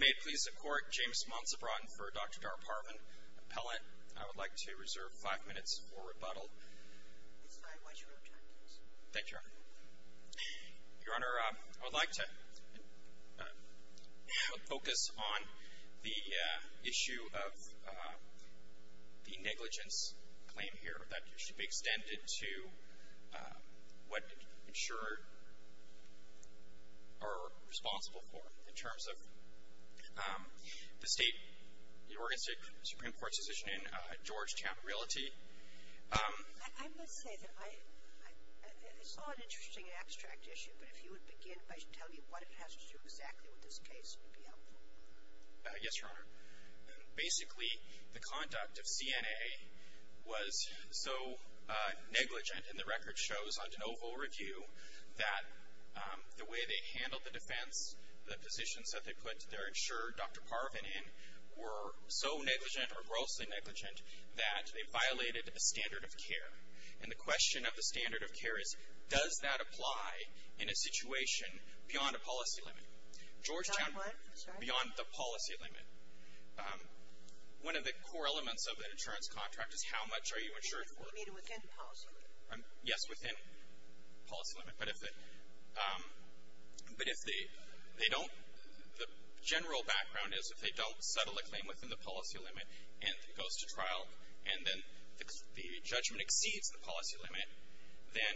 May it please the Court, James Monson Broughton for Dr. Dara Parvin Appellate. I would like to reserve five minutes for rebuttal. Thank you, Your Honor. Your Honor, I would like to focus on the issue of the negligence claim here that should be extended to what insurer are responsible for in terms of the state, the Oregon State Supreme Court's decision in Georgetown Realty. I must say that I saw an interesting abstract issue, but if you would begin by telling me what it has to do exactly with this case, it would be helpful. Yes, Your Honor. Basically, the conduct of CNA was so negligent in the record shows on DeNovo Review that the way they handled the defense, the positions that they put their insurer, Dr. Parvin, in were so negligent or grossly negligent that they violated a standard of care. And the question of the standard of care is, does that apply in a situation beyond a policy limit? Georgetown, beyond the policy limit, one of the core elements of an insurance contract is how much are you insured for? You mean within policy limit? Yes, within policy limit. But if they don't, the general background is if they don't settle a claim within the policy limit and it goes to trial and then the judgment exceeds the policy limit, then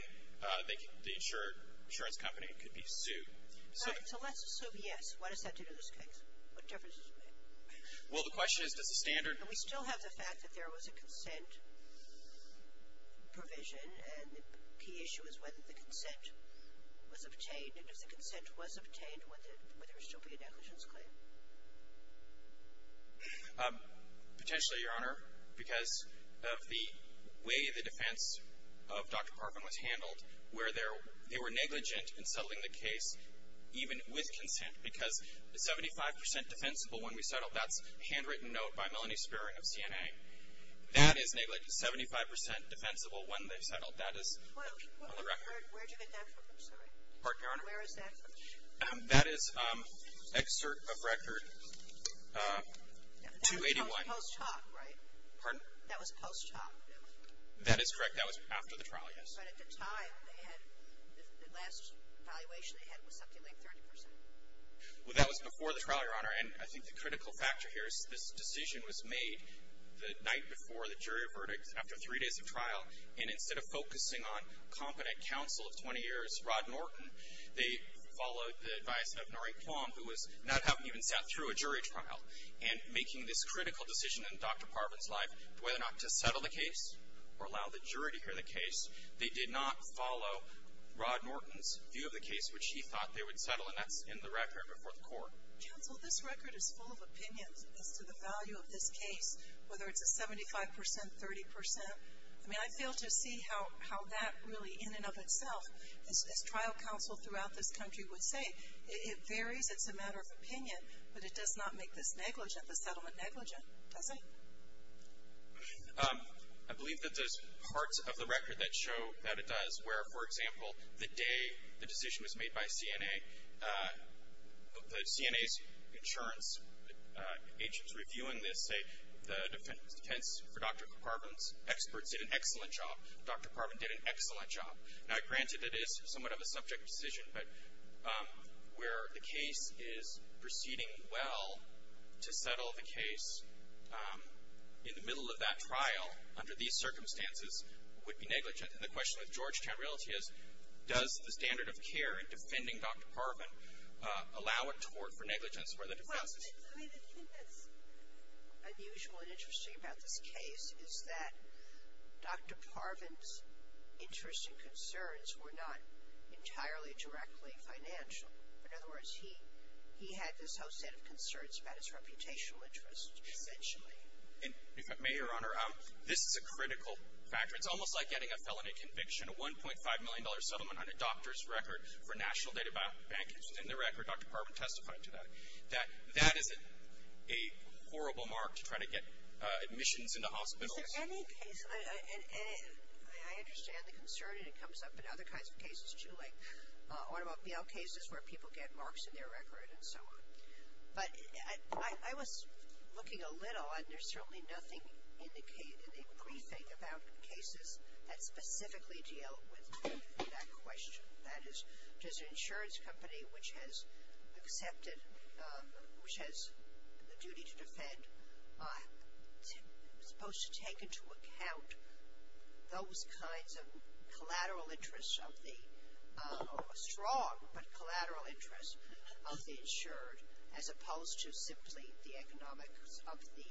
the insurance company could be sued. So let's assume yes. What does that do to this case? What difference does it make? Well, the question is, does the standard And we still have the fact that there was a consent provision and the key issue is whether the consent was obtained. And if the consent was obtained, would there still be a negligence claim? Potentially, Your Honor, because of the way the defense of Dr. Parvin was handled, where they were negligent in settling the case, even with consent, because 75 percent defensible when we settled. That's a handwritten note by Melanie Spearing of CNA. That is negligent, 75 percent defensible when they settled. That is on the record. Where did you get that from? I'm sorry. Pardon, Your Honor? Where is that from? That is excerpt of record 281. That was post hoc, right? Pardon? That was post hoc. That is correct. That was after the trial, yes. But at the time, the last evaluation they had was something like 30 percent. Well, that was before the trial, Your Honor. And I think the critical factor here is this decision was made the night before the jury verdict after three days of trial. And instead of focusing on competent counsel of 20 years, Rod Norton, they followed the advice of Norrie Quam, who was not having even sat through a jury trial. And making this critical decision in Dr. Parvin's life, whether or not to settle the case or allow the jury to hear the case, they did not follow Rod Norton's view of the case, which he thought they would settle. And that's in the record before the court. Counsel, this record is full of opinions as to the value of this case, whether it's a 75 percent, 30 percent. I mean, I fail to see how that really in and of itself, as trial counsel throughout this country would say, it varies, it's a matter of opinion, but it does not make this negligent, the settlement negligent, does it? I believe that there's parts of the record that show that it does, where, for example, the day the decision was made by CNA, the CNA's insurance agents reviewing this say the defense for Dr. Parvin's experts did an excellent job. Dr. Parvin did an excellent job. Now, granted, it is somewhat of a subject decision, but where the case is proceeding well, to settle the case in the middle of that trial under these circumstances would be negligent. And the question with Georgetown Realty is, does the standard of care in defending Dr. Parvin allow a tort for negligence where the defense is true? I mean, the thing that's unusual and interesting about this case is that Dr. Parvin's interests and concerns were not entirely directly financial. In other words, he had this whole set of concerns about his reputational interests, essentially. And if I may, Your Honor, this is a critical factor. It's almost like getting a felony conviction, a $1.5 million settlement on a doctor's record for National Data Bank. In the record, Dr. Parvin testified to that. That that is a horrible mark to try to get admissions into hospitals. Is there any case, and I understand the concern, and it comes up in other kinds of cases, too, like automobile cases where people get marks in their record and so on. But I was looking a little, and there's certainly nothing indicated in briefing about cases that specifically deal with that question. That is, does an insurance company which has accepted, which has the duty to defend, supposed to take into account those kinds of collateral interests of the, strong but collateral interests of the insured as opposed to simply the economics of the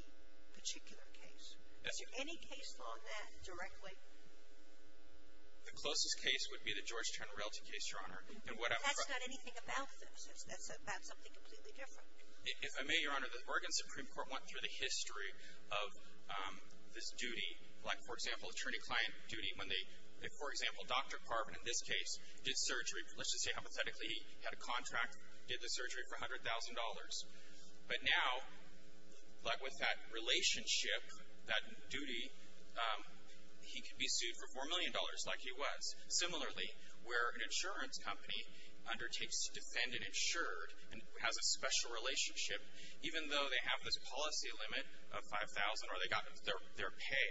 particular case? Is there any case law on that directly? The closest case would be the Georgetown Realty case, Your Honor. But that's not anything about this. That's about something completely different. If I may, Your Honor, the Oregon Supreme Court went through the history of this duty. Like, for example, attorney-client duty when they, for example, Dr. Parvin in this case did surgery. Let's just say hypothetically he had a contract, did the surgery for $100,000. But now, like with that relationship, that duty, he could be sued for $4 million like he was. Similarly, where an insurance company undertakes to defend an insured and has a special relationship, even though they have this policy limit of $5,000 or they got their pay,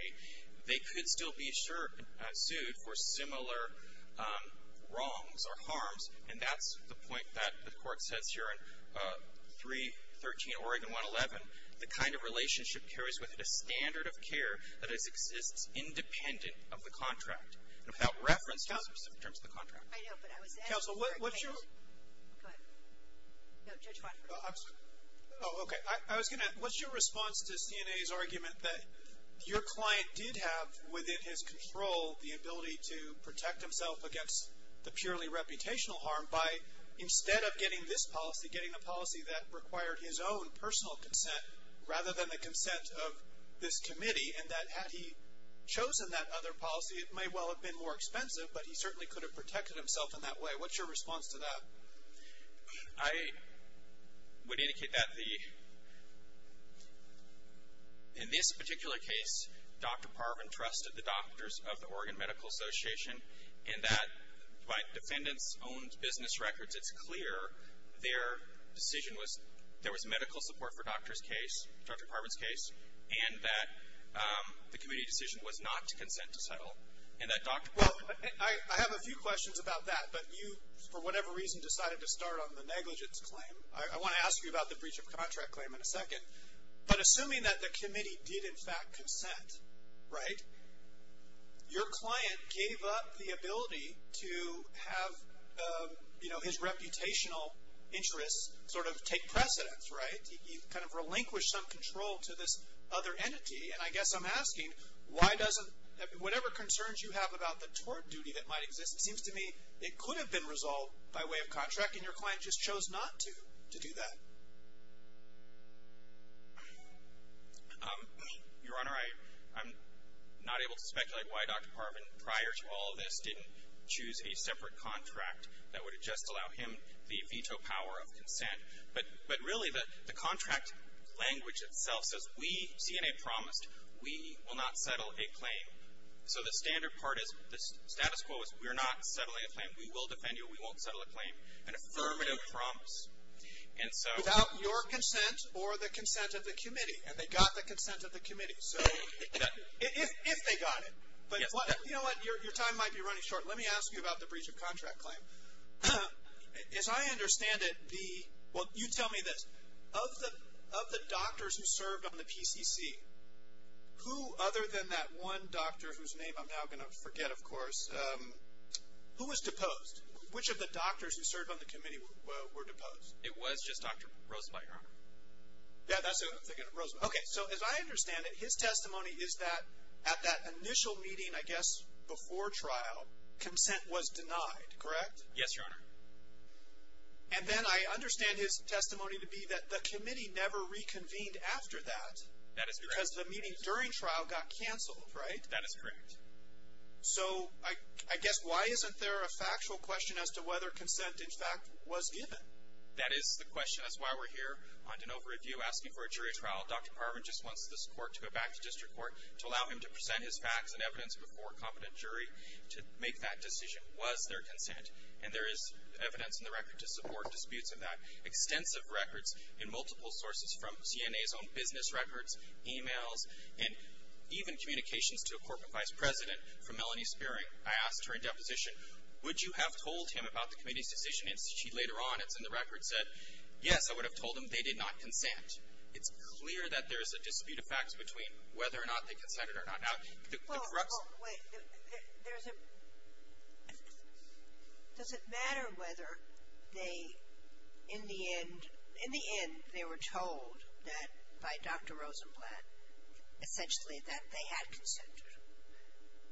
they could still be sued for similar wrongs or harms. And that's the point that the court says here in 313 Oregon 111. The kind of relationship carries with it a standard of care that exists independent of the contract and without reference to the specific terms of the contract. I know, but I was asking for a case. Counsel, what's your? Go ahead. No, Judge Bonner. Oh, okay. I was going to ask, what's your response to CNA's argument that your client did have within his control the ability to protect himself against the purely reputational harm by instead of getting this policy, getting a policy that required his own personal consent rather than the consent of this committee and that had he chosen that other policy, it may well have been more expensive, but he certainly could have protected himself in that way. What's your response to that? I would indicate that the, in this particular case, Dr. Parvin trusted the doctors of the Oregon Medical Association and that by defendants' own business records, it's clear their decision was, there was medical support for Dr. Parvin's case and that the committee decision was not to consent to settle. Well, I have a few questions about that. But you, for whatever reason, decided to start on the negligence claim. I want to ask you about the breach of contract claim in a second. But assuming that the committee did, in fact, consent, right? Your client gave up the ability to have, you know, his reputational interests sort of take precedence, right? He kind of relinquished some control to this other entity. And I guess I'm asking, why doesn't, whatever concerns you have about the tort duty that might exist, it seems to me it could have been resolved by way of contract and your client just chose not to, to do that. Your Honor, I'm not able to speculate why Dr. Parvin, prior to all of this, didn't choose a separate contract that would have just allowed him the veto power of consent. But really, the contract language itself says, we, CNA promised, we will not settle a claim. So the standard part is, the status quo is, we're not settling a claim. We will defend you. We won't settle a claim. An affirmative promise. And so. Without your consent or the consent of the committee. And they got the consent of the committee. So, if they got it. But you know what, your time might be running short. Let me ask you about the breach of contract claim. As I understand it, the, well, you tell me this. Of the doctors who served on the PCC, who other than that one doctor whose name I'm now going to forget, of course, who was deposed? Which of the doctors who served on the committee were deposed? It was just Dr. Rosenbeck, Your Honor. Yeah, that's it. I'm thinking of Rosenbeck. Okay. So, as I understand it, his testimony is that at that initial meeting, I guess, before trial, consent was denied, correct? Yes, Your Honor. And then I understand his testimony to be that the committee never reconvened after that. That is correct. Because the meeting during trial got canceled, right? That is correct. So, I guess, why isn't there a factual question as to whether consent, in fact, was given? That is the question. That's why we're here on DeNova Review asking for a jury trial. Dr. Parvin just wants this court to go back to district court to allow him to present his facts and evidence before a competent jury to make that decision. Was there consent? And there is evidence in the record to support disputes of that. Extensive records and multiple sources from CNA's own business records, e-mails, and even communications to a corporate vice president from Melanie Spearing. I asked her in deposition, would you have told him about the committee's decision? And she, later on, it's in the record, said, yes, I would have told him they did not consent. It's clear that there is a dispute of facts between whether or not they consented or not. Well, wait, does it matter whether they, in the end, in the end, they were told that by Dr. Rosenblatt, essentially, that they had consented,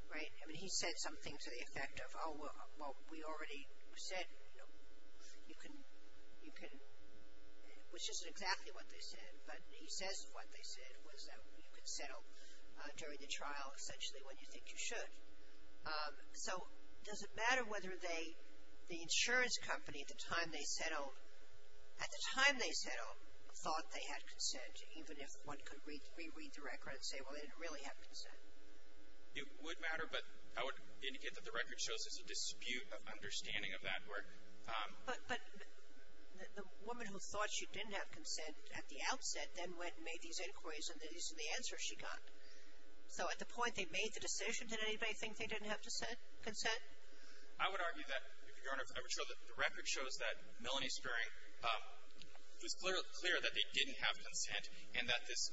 right? I mean, he said something to the effect of, oh, well, we already said, you know, you can, you can, which isn't exactly what they said, but he says what they said was that you can settle during the trial, essentially, when you think you should. So does it matter whether they, the insurance company, at the time they settled, at the time they settled, thought they had consent, even if one could reread the record and say, well, they didn't really have consent? It would matter, but I would indicate that the record shows there's a dispute of understanding of that. But the woman who thought she didn't have consent at the outset then went and made these inquiries, and these are the answers she got. So at the point they made the decision, did anybody think they didn't have consent? I would argue that, Your Honor, I would show that the record shows that Melanie Spiering, it was clear that they didn't have consent, and that this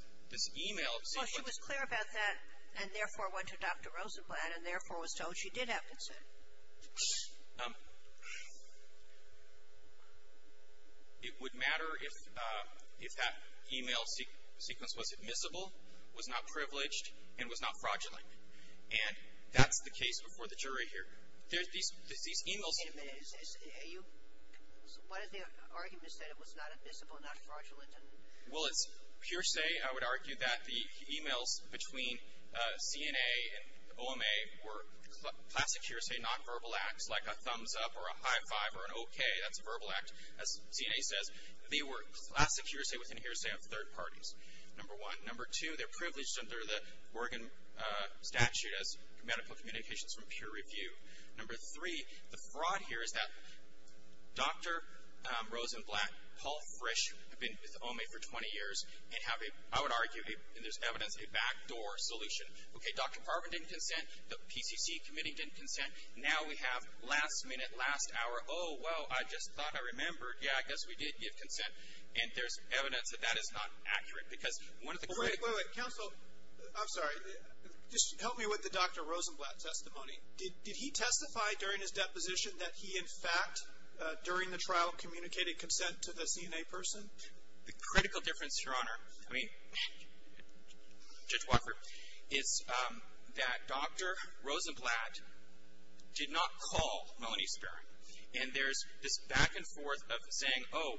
e-mail. Well, she was clear about that, and therefore went to Dr. Rosenblatt, and therefore was told she did have consent. It would matter if that e-mail sequence was admissible, was not privileged, and was not fraudulent. And that's the case before the jury here. There's these e-mails. Wait a minute. So what is the argument that it was not admissible, not fraudulent? Well, it's pure say. I would argue that the e-mails between CNA and OMA were classic hearsay, not verbal acts, like a thumbs-up or a high-five or an okay. That's a verbal act. As CNA says, they were classic hearsay within hearsay of third parties, number one. Number two, they're privileged under the Morgan statute as medical communications from peer review. Number three, the fraud here is that Dr. Rosenblatt, Paul Frisch, have been with OMA for 20 years and have a, I would argue, and there's evidence, a backdoor solution. Okay, Dr. Parvin didn't consent. The PCC committee didn't consent. Now we have last minute, last hour, oh, well, I just thought I remembered. Yeah, I guess we did give consent. And there's evidence that that is not accurate because one of the quick — Wait, wait, wait. Counsel, I'm sorry. Just help me with the Dr. Rosenblatt testimony. Did he testify during his deposition that he, in fact, during the trial communicated consent to the CNA person? The critical difference, Your Honor, I mean, Judge Walker, is that Dr. Rosenblatt did not call Melanie Spearing. And there's this back and forth of saying, oh,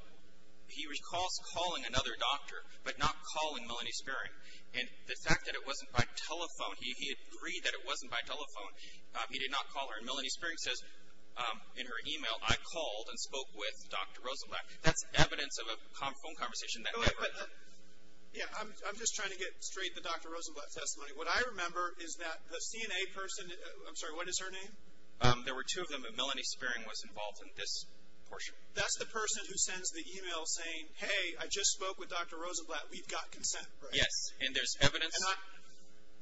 he recalls calling another doctor, but not calling Melanie Spearing. And the fact that it wasn't by telephone, he agreed that it wasn't by telephone. He did not call her. And Melanie Spearing says in her e-mail, I called and spoke with Dr. Rosenblatt. That's evidence of a phone conversation that never happened. Yeah, I'm just trying to get straight the Dr. Rosenblatt testimony. What I remember is that the CNA person, I'm sorry, what is her name? There were two of them, and Melanie Spearing was involved in this portion. That's the person who sends the e-mail saying, hey, I just spoke with Dr. Rosenblatt. We've got consent, right? Yes, and there's evidence.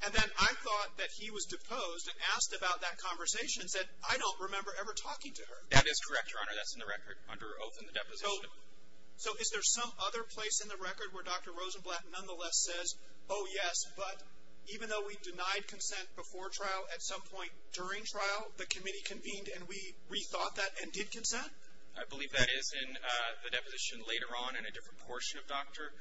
And then I thought that he was deposed and asked about that conversation and said, I don't remember ever talking to her. That is correct, Your Honor. That's in the record under oath in the deposition. So is there some other place in the record where Dr. Rosenblatt nonetheless says, oh, yes, but even though we denied consent before trial, at some point during trial, the committee convened and we rethought that and did consent? I believe that is in the deposition later on in a different portion of Dr.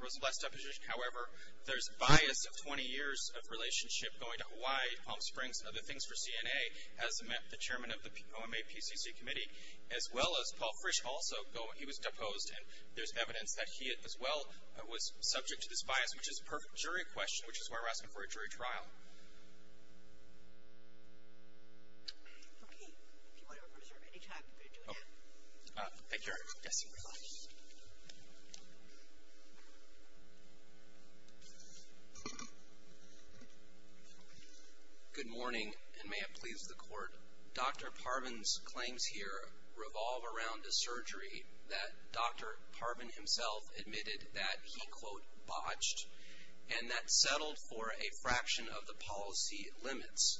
Rosenblatt's deposition. However, there's bias of 20 years of relationship going to Hawaii, Palm Springs, other things for CNA, as met the chairman of the OMA PCC committee, as well as Paul Frisch also. He was deposed, and there's evidence that he as well was subject to this bias, which is a perfect jury question, which is why we're asking for a jury trial. Okay. If you want to reserve any time to do that. Thank you, Your Honor. Yes, Your Honor. Good morning, and may it please the Court. Dr. Parvin's claims here revolve around a surgery that Dr. Parvin himself admitted that he, quote, botched, and that settled for a fraction of the policy limits.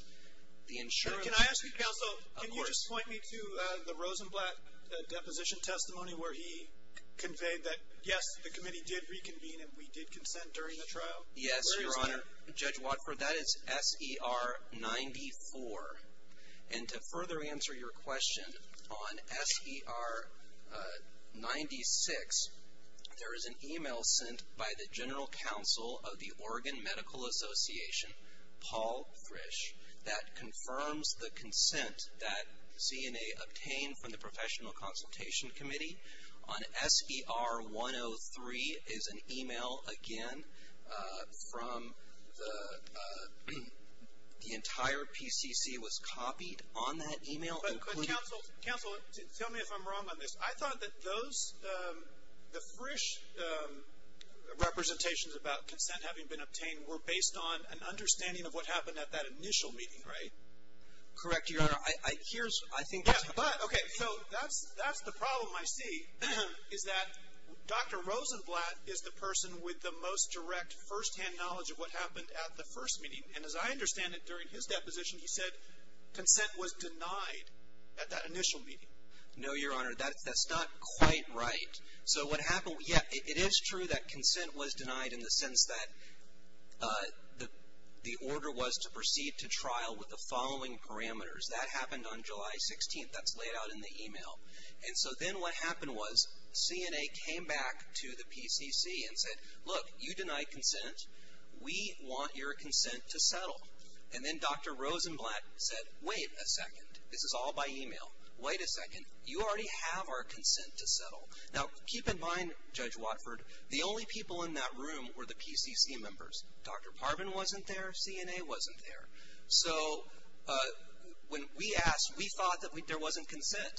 The insurance- Where he conveyed that, yes, the committee did reconvene and we did consent during the trial? Yes, Your Honor. Where is that? Judge Watford, that is S.E.R. 94. And to further answer your question, on S.E.R. 96, there is an e-mail sent by the general counsel of the Oregon Medical Association, Paul Frisch, that confirms the consent that ZNA obtained from the professional consultation committee. On S.E.R. 103 is an e-mail, again, from the entire PCC was copied on that e-mail, including- But counsel, tell me if I'm wrong on this. I thought that those, the Frisch representations about consent having been obtained were based on an understanding of what happened at that initial meeting, right? Correct, Your Honor. I think- Yeah, but, okay, so that's the problem I see is that Dr. Rosenblatt is the person with the most direct firsthand knowledge of what happened at the first meeting. And as I understand it, during his deposition, he said consent was denied at that initial meeting. No, Your Honor. That's not quite right. So what happened, yeah, it is true that consent was denied in the sense that the order was to proceed to trial with the following parameters. That happened on July 16th. That's laid out in the e-mail. And so then what happened was ZNA came back to the PCC and said, look, you denied consent. We want your consent to settle. And then Dr. Rosenblatt said, wait a second. This is all by e-mail. Wait a second. You already have our consent to settle. Now, keep in mind, Judge Watford, the only people in that room were the PCC members. Dr. Parvin wasn't there. ZNA wasn't there. So when we asked, we thought that there wasn't consent.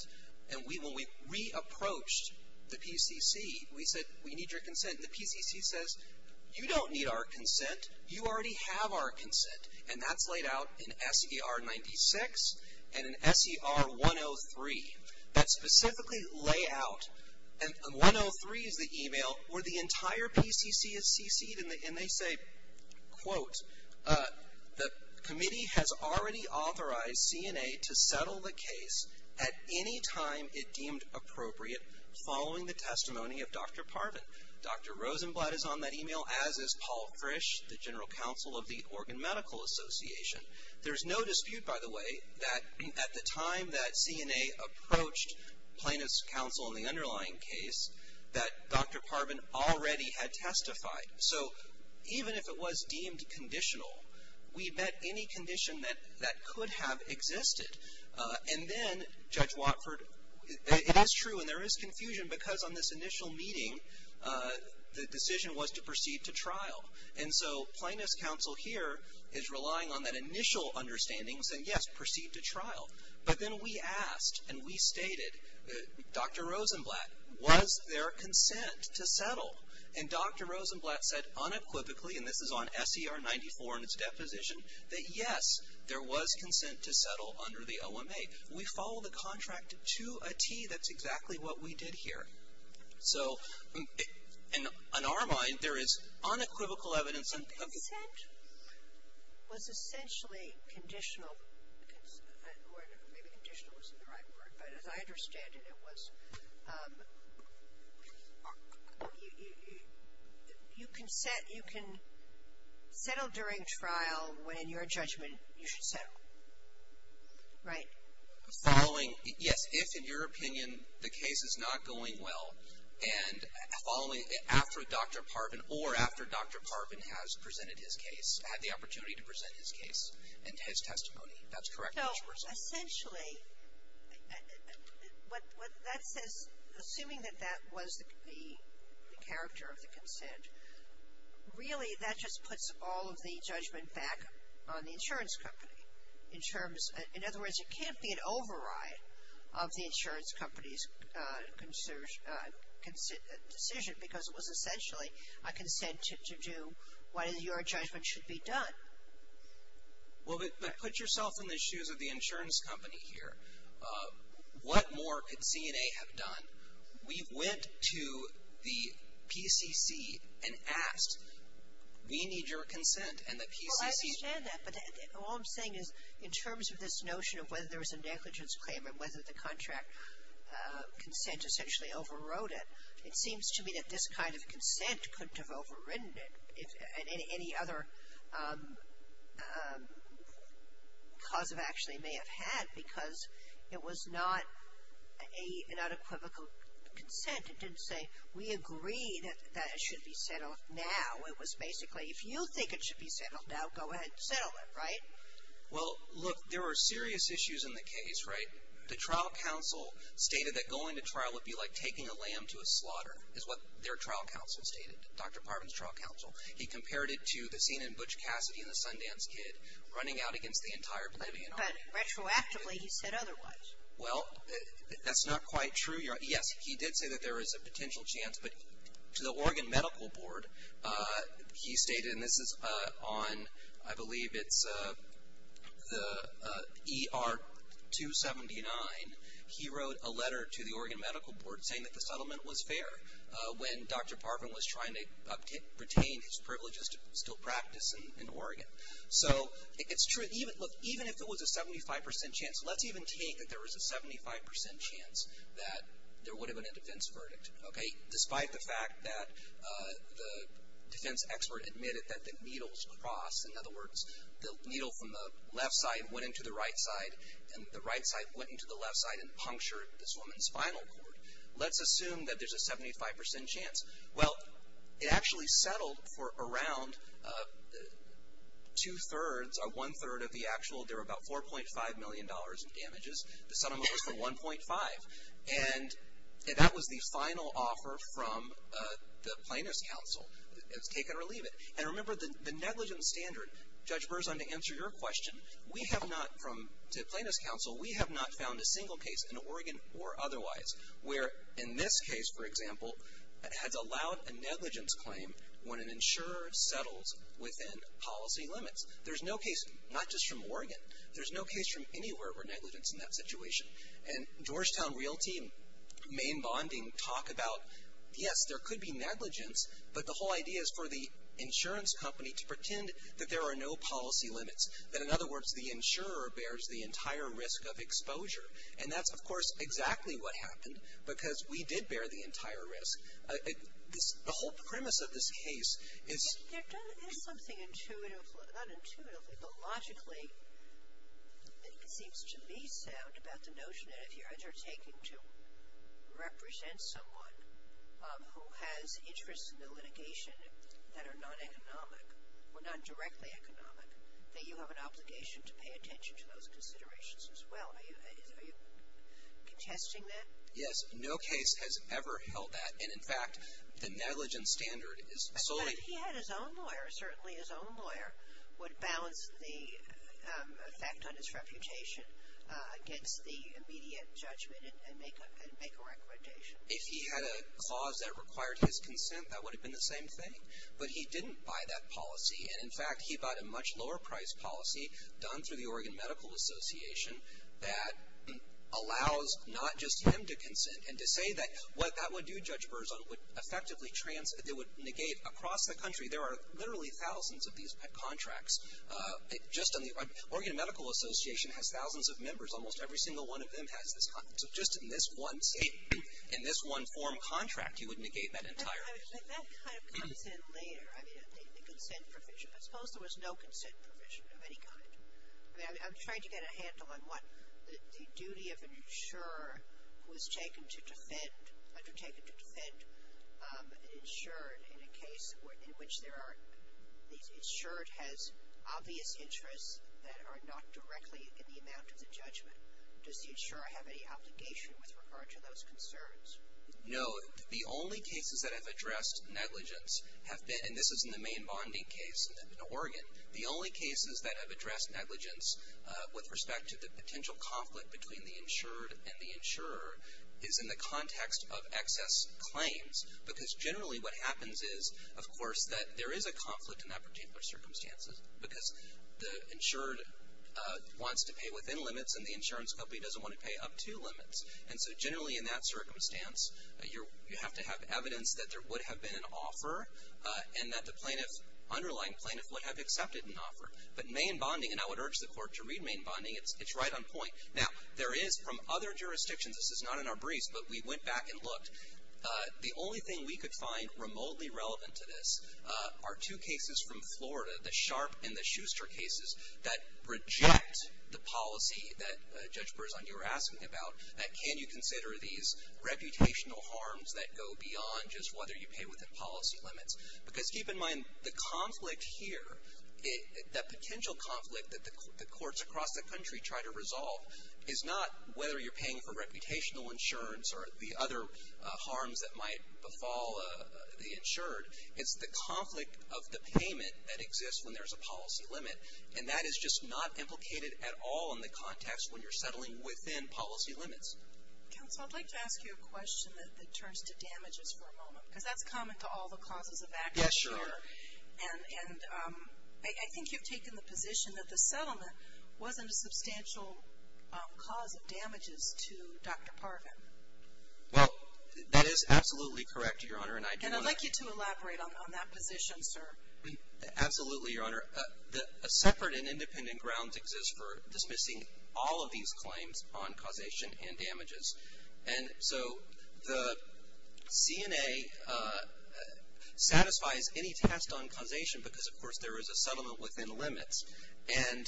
And when we re-approached the PCC, we said, we need your consent. And the PCC says, you don't need our consent. You already have our consent. And that's laid out in SER 96 and in SER 103. That specifically lay out, and 103 is the e-mail where the entire PCC is cc'd, and they say, quote, the committee has already authorized ZNA to settle the case at any time it deemed appropriate following the testimony of Dr. Parvin. Dr. Rosenblatt is on that e-mail, as is Paul Frisch, the general counsel of the Organ Medical Association. There's no dispute, by the way, that at the time that ZNA approached plaintiff's counsel in the underlying case, that Dr. Parvin already had testified. So even if it was deemed conditional, we met any condition that could have existed. And then, Judge Watford, it is true and there is confusion because on this initial meeting, the decision was to proceed to trial. And so plaintiff's counsel here is relying on that initial understanding, saying, yes, proceed to trial. But then we asked and we stated, Dr. Rosenblatt, was there consent to settle? And Dr. Rosenblatt said unequivocally, and this is on SER 94 in its deposition, that, yes, there was consent to settle under the OMA. We follow the contract to a tee. That's exactly what we did here. So on our mind, there is unequivocal evidence. So consent was essentially conditional. Maybe conditional isn't the right word, but as I understand it, it was. You can settle during trial when, in your judgment, you should settle. Right? Following, yes, if, in your opinion, the case is not going well, and following, after Dr. Parvin, or after Dr. Parvin has presented his case, had the opportunity to present his case and his testimony, that's correct. That's the result. So essentially, what that says, assuming that that was the character of the consent, really that just puts all of the judgment back on the insurance company. In other words, it can't be an override of the insurance company's decision because it was essentially a consent to do what, in your judgment, should be done. Well, but put yourself in the shoes of the insurance company here. What more could CNA have done? We went to the PCC and asked, we need your consent. Well, I understand that. But all I'm saying is, in terms of this notion of whether there was a negligence claim and whether the contract consent essentially overrode it, it seems to me that this kind of consent couldn't have overridden it. Any other cause of action it may have had because it was not an unequivocal consent. It didn't say, we agree that it should be settled now. It was basically, if you think it should be settled now, go ahead and settle it, right? Well, look, there were serious issues in the case, right? The trial counsel stated that going to trial would be like taking a lamb to a slaughter, is what their trial counsel stated, Dr. Parvin's trial counsel. He compared it to the scene in Butch Cassidy and the Sundance Kid, running out against the entire Blvd. But retroactively, he said otherwise. Well, that's not quite true. Yes, he did say that there is a potential chance. But to the Oregon Medical Board, he stated, and this is on, I believe it's the ER 279, he wrote a letter to the Oregon Medical Board saying that the settlement was fair when Dr. Parvin was trying to retain his privileges to still practice in Oregon. So it's true, even if it was a 75% chance, let's even take that there was a 75% chance that there would have been a defense verdict. Okay? Despite the fact that the defense expert admitted that the needles crossed. In other words, the needle from the left side went into the right side, and the right side went into the left side and punctured this woman's spinal cord. Let's assume that there's a 75% chance. Well, it actually settled for around two-thirds or one-third of the actual, there were about $4.5 million in damages. The settlement was for 1.5. And that was the final offer from the Plaintiff's Counsel, take it or leave it. And remember, the negligence standard, Judge Berzon, to answer your question, we have not, from the Plaintiff's Counsel, we have not found a single case in Oregon or otherwise where, in this case, for example, has allowed a negligence claim when an insurer settles within policy limits. There's no case, not just from Oregon, there's no case from anywhere where negligence is in that situation. And Georgetown Realty and Maine Bonding talk about, yes, there could be negligence, but the whole idea is for the insurance company to pretend that there are no policy limits. That, in other words, the insurer bears the entire risk of exposure. And that's, of course, exactly what happened, because we did bear the entire risk. There is something intuitive, not intuitively, but logically, that seems to me sound about the notion that if you're undertaking to represent someone who has interests in the litigation that are non-economic or not directly economic, that you have an obligation to pay attention to those considerations as well. Are you contesting that? Yes, no case has ever held that. And, in fact, the negligence standard is solely If he had his own lawyer, certainly his own lawyer would balance the effect on his reputation against the immediate judgment and make a recommendation. If he had a clause that required his consent, that would have been the same thing. But he didn't buy that policy. And, in fact, he bought a much lower-priced policy done through the Oregon Medical Association that allows not just him to consent and to say that what that would do, which person would effectively negate across the country. There are literally thousands of these contracts. Just on the Oregon Medical Association has thousands of members. Almost every single one of them has this. So just in this one state, in this one form contract, he would negate that entirely. But that kind of consent later, I mean, the consent provision, I suppose there was no consent provision of any kind. I mean, I'm trying to get a handle on what the duty of an insurer was taken to defend, undertaken to defend an insurer in a case in which there are, the insured has obvious interests that are not directly in the amount of the judgment. Does the insurer have any obligation with regard to those concerns? No. The only cases that have addressed negligence have been, and this is in the main bonding case in Oregon, the only cases that have addressed negligence with respect to the potential conflict between the insured and the insurer is in the context of excess claims. Because generally what happens is, of course, that there is a conflict in that particular circumstances. Because the insured wants to pay within limits and the insurance company doesn't want to pay up to limits. And so generally in that circumstance, you have to have evidence that there would have been an offer and that the plaintiff, underlying plaintiff, would have accepted an offer. But main bonding, and I would urge the court to read main bonding, it's right on point. Now, there is from other jurisdictions, this is not in our briefs, but we went back and looked, the only thing we could find remotely relevant to this are two cases from Florida, the Sharpe and the Schuster cases that reject the policy that Judge Berzon, you were asking about, that can you consider these reputational harms that go beyond just whether you pay within policy limits. Because keep in mind, the conflict here, that potential conflict that the courts across the country try to resolve is not whether you're paying for reputational insurance or the other harms that might befall the insured. It's the conflict of the payment that exists when there's a policy limit. And that is just not implicated at all in the context when you're settling within policy limits. Counsel, I'd like to ask you a question that turns to damages for a moment. Because that's common to all the causes of action here. And I think you've taken the position that the settlement wasn't a substantial cause of damages to Dr. Parvin. Well, that is absolutely correct, Your Honor, and I do want to And I'd like you to elaborate on that position, sir. Absolutely, Your Honor. A separate and independent grounds exists for dismissing all of these claims on causation and damages. And so the CNA satisfies any test on causation because, of course, there is a settlement within limits. And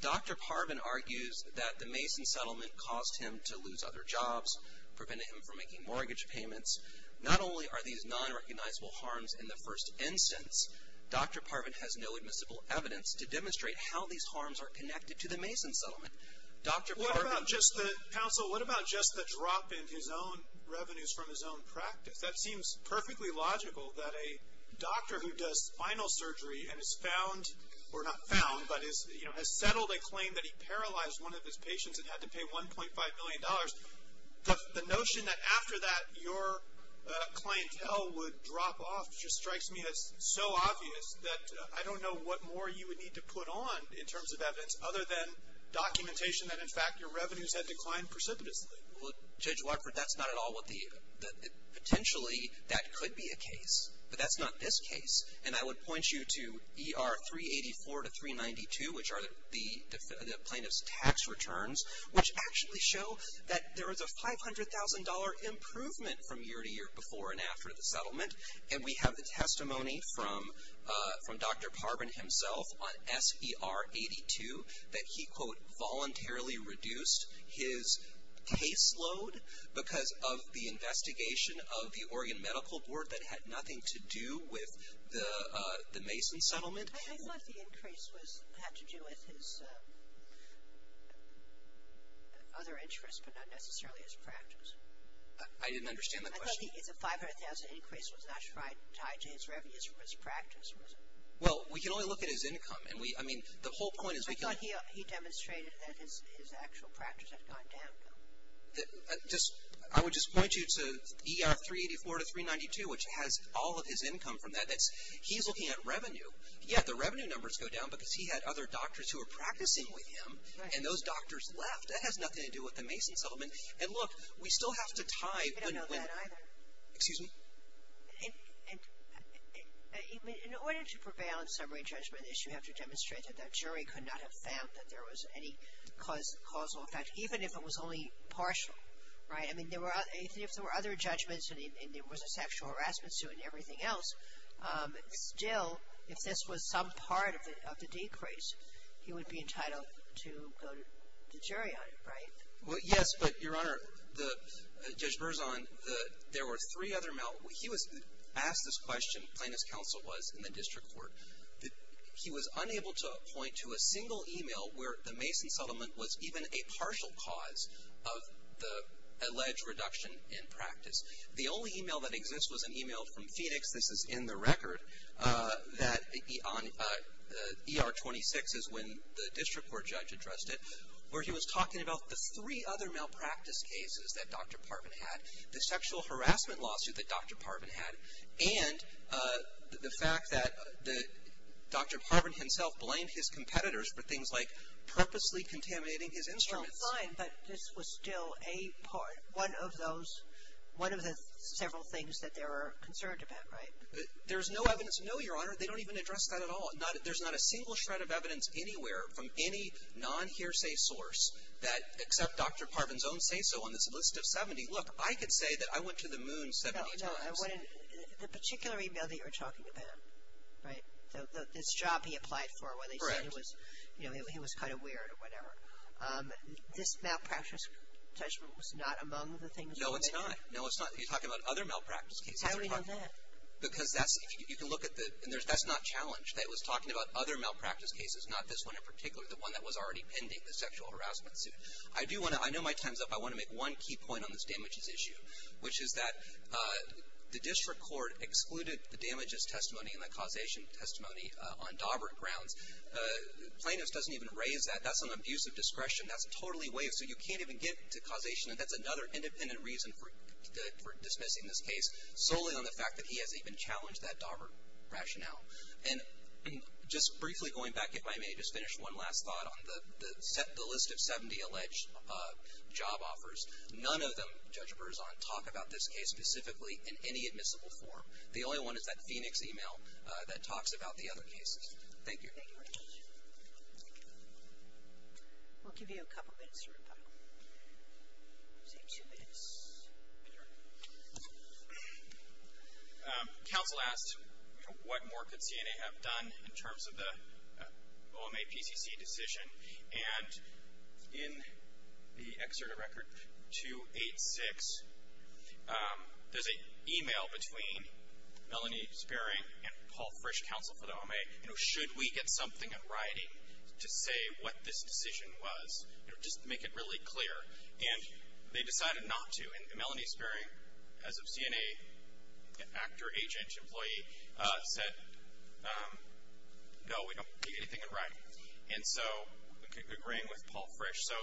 Dr. Parvin argues that the Mason settlement caused him to lose other jobs, prevented him from making mortgage payments. Not only are these nonrecognizable harms in the first instance, Dr. Parvin has no admissible evidence to demonstrate how these harms are connected to the Mason settlement. Counsel, what about just the drop in his own revenues from his own practice? That seems perfectly logical that a doctor who does spinal surgery and has settled a claim that he paralyzed one of his patients and had to pay $1.5 million. The notion that after that your clientele would drop off just strikes me as so obvious that I don't know what more you would need to put on in terms of evidence other than documentation that, in fact, your revenues had declined precipitously. Well, Judge Watford, that's not at all what the – potentially that could be a case, but that's not this case. And I would point you to ER 384 to 392, which are the plaintiff's tax returns, which actually show that there is a $500,000 improvement from year to year before and after the settlement. And we have the testimony from Dr. Parvin himself on SER 82 that he, quote, voluntarily reduced his caseload because of the investigation of the Oregon Medical Board that had nothing to do with the Mason settlement. I thought the increase had to do with his other interests, but not necessarily his practice. I didn't understand the question. I thought the $500,000 increase was not tied to his revenues from his practice. Well, we can only look at his income. I mean, the whole point is we can – I thought he demonstrated that his actual practice had gone down. I would just point you to ER 384 to 392, which has all of his income from that. He's looking at revenue. Yeah, the revenue numbers go down because he had other doctors who were practicing with him, and those doctors left. That has nothing to do with the Mason settlement. And, look, we still have to tie – We don't know that either. Excuse me? In order to prevail in summary judgment, you have to demonstrate that that jury could not have found that there was any causal effect, even if it was only partial, right? I mean, even if there were other judgments and there was a sexual harassment suit and everything else, still, if this was some part of the decrease, he would be entitled to go to the jury on it, right? Well, yes, but, Your Honor, Judge Berzon, there were three other – he was asked this question, plain as counsel was in the district court, that he was unable to point to a single e-mail where the Mason settlement was even a partial cause of the alleged reduction in practice. The only e-mail that exists was an e-mail from Phoenix, this is in the record, that ER 26 is when the district court judge addressed it, where he was talking about the three other malpractice cases that Dr. Parvin had, the sexual harassment lawsuit that Dr. Parvin had, and the fact that Dr. Parvin himself blamed his competitors for things like purposely contaminating his instruments. Well, fine, but this was still a part, one of those – one of the several things that they were concerned about, right? There's no evidence – no, Your Honor, they don't even address that at all. There's not a single shred of evidence anywhere from any non-hearsay source that except Dr. Parvin's own say-so on this list of 70, look, I could say that I went to the moon 70 times. No, no, I wouldn't – the particular e-mail that you're talking about, right, this job he applied for where they said it was, you know, he was kind of weird or whatever, this malpractice judgment was not among the things that they did. No, it's not. No, it's not. You're talking about other malpractice cases. How do we know that? Because that's – you can look at the – and that's not challenged. It was talking about other malpractice cases, not this one in particular, the one that was already pending, the sexual harassment suit. I do want to – I know my time's up. I want to make one key point on this damages issue, which is that the district court excluded the damages testimony and the causation testimony on Daubert grounds. Plano's doesn't even raise that. That's an abuse of discretion. That's totally way – so you can't even get to causation, and that's another independent reason for dismissing this case, solely on the fact that he hasn't even challenged that Daubert rationale. And just briefly going back, if I may, just finish one last thought on the list of 70 alleged job offers. None of them, Judge Berzon, talk about this case specifically in any admissible form. The only one is that Phoenix email that talks about the other cases. Thank you. Thank you very much. We'll give you a couple minutes to rebuttal. I'll say two minutes. Counsel asked what more could CNA have done in terms of the OMA PCC decision, and in the excerpt of Record 286, there's an email between Melanie Sparing and Paul Frisch, counsel for the OMA, you know, should we get something in writing to say what this decision was, you know, just to make it really clear. And they decided not to. And Melanie Sparing, as a CNA actor, agent, employee, said, no, we don't get anything in writing. And so we're agreeing with Paul Frisch. So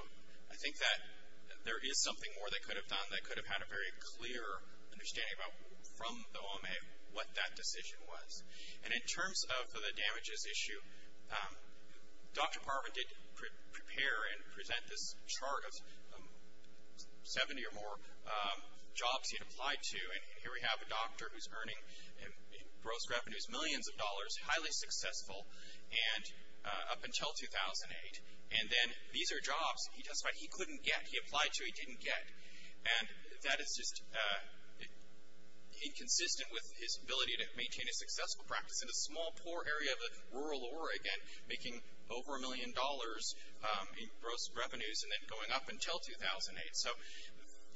I think that there is something more they could have done that could have had a very clear understanding from the OMA what that decision was. And in terms of the damages issue, Dr. Parvin did prepare and present this chart of 70 or more jobs he had applied to. And here we have a doctor who's earning gross revenues, millions of dollars, highly successful, and up until 2008. And then these are jobs he testified he couldn't get, he applied to, he didn't get. And that is just inconsistent with his ability to maintain a successful practice in a small, poor area of rural Oregon, making over a million dollars in gross revenues, and then going up until 2008. So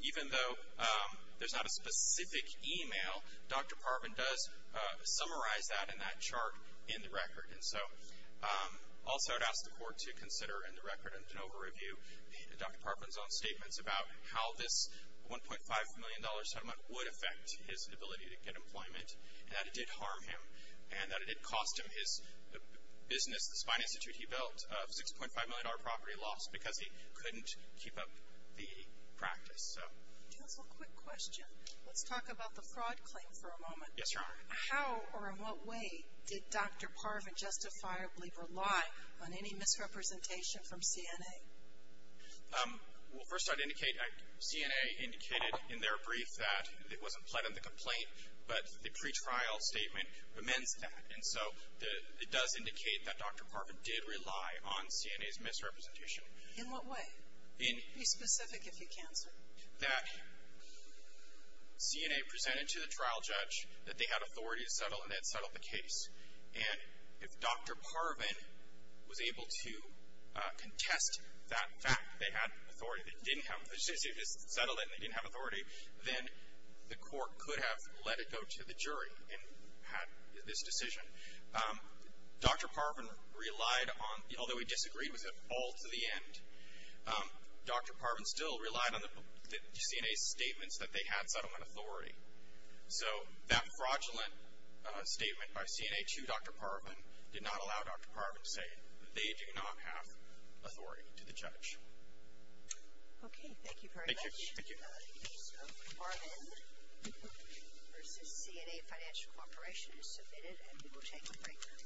even though there's not a specific email, Dr. Parvin does summarize that in that chart in the record. And so also I'd ask the court to consider in the record and to overview Dr. Parvin's own statements about how this $1.5 million settlement would affect his ability to get employment, and that it did harm him, and that it did cost him his business, the spine institute he built of $6.5 million property lost because he couldn't keep up the practice. So. Just a quick question. Let's talk about the fraud claim for a moment. Yes, Your Honor. How or in what way did Dr. Parvin justifiably rely on any misrepresentation from CNA? Well, first I'd indicate CNA indicated in their brief that it wasn't pled in the complaint, but the pretrial statement amends that. And so it does indicate that Dr. Parvin did rely on CNA's misrepresentation. In what way? Be specific if you can, sir. That CNA presented to the trial judge that they had authority to settle and they had settled the case. And if Dr. Parvin was able to contest that fact, they had authority, they didn't have the decision to settle it and they didn't have authority, then the court could have let it go to the jury and had this decision. Dr. Parvin relied on, although he disagreed with it all to the end, Dr. Parvin still relied on the CNA's statements that they had settlement authority. So that fraudulent statement by CNA to Dr. Parvin did not allow Dr. Parvin to say that they do not have authority to the judge. Okay. Thank you very much. Thank you. Thank you. Thank you, sir. Parvin v. CNA Financial Corporation is submitted and we will take a break.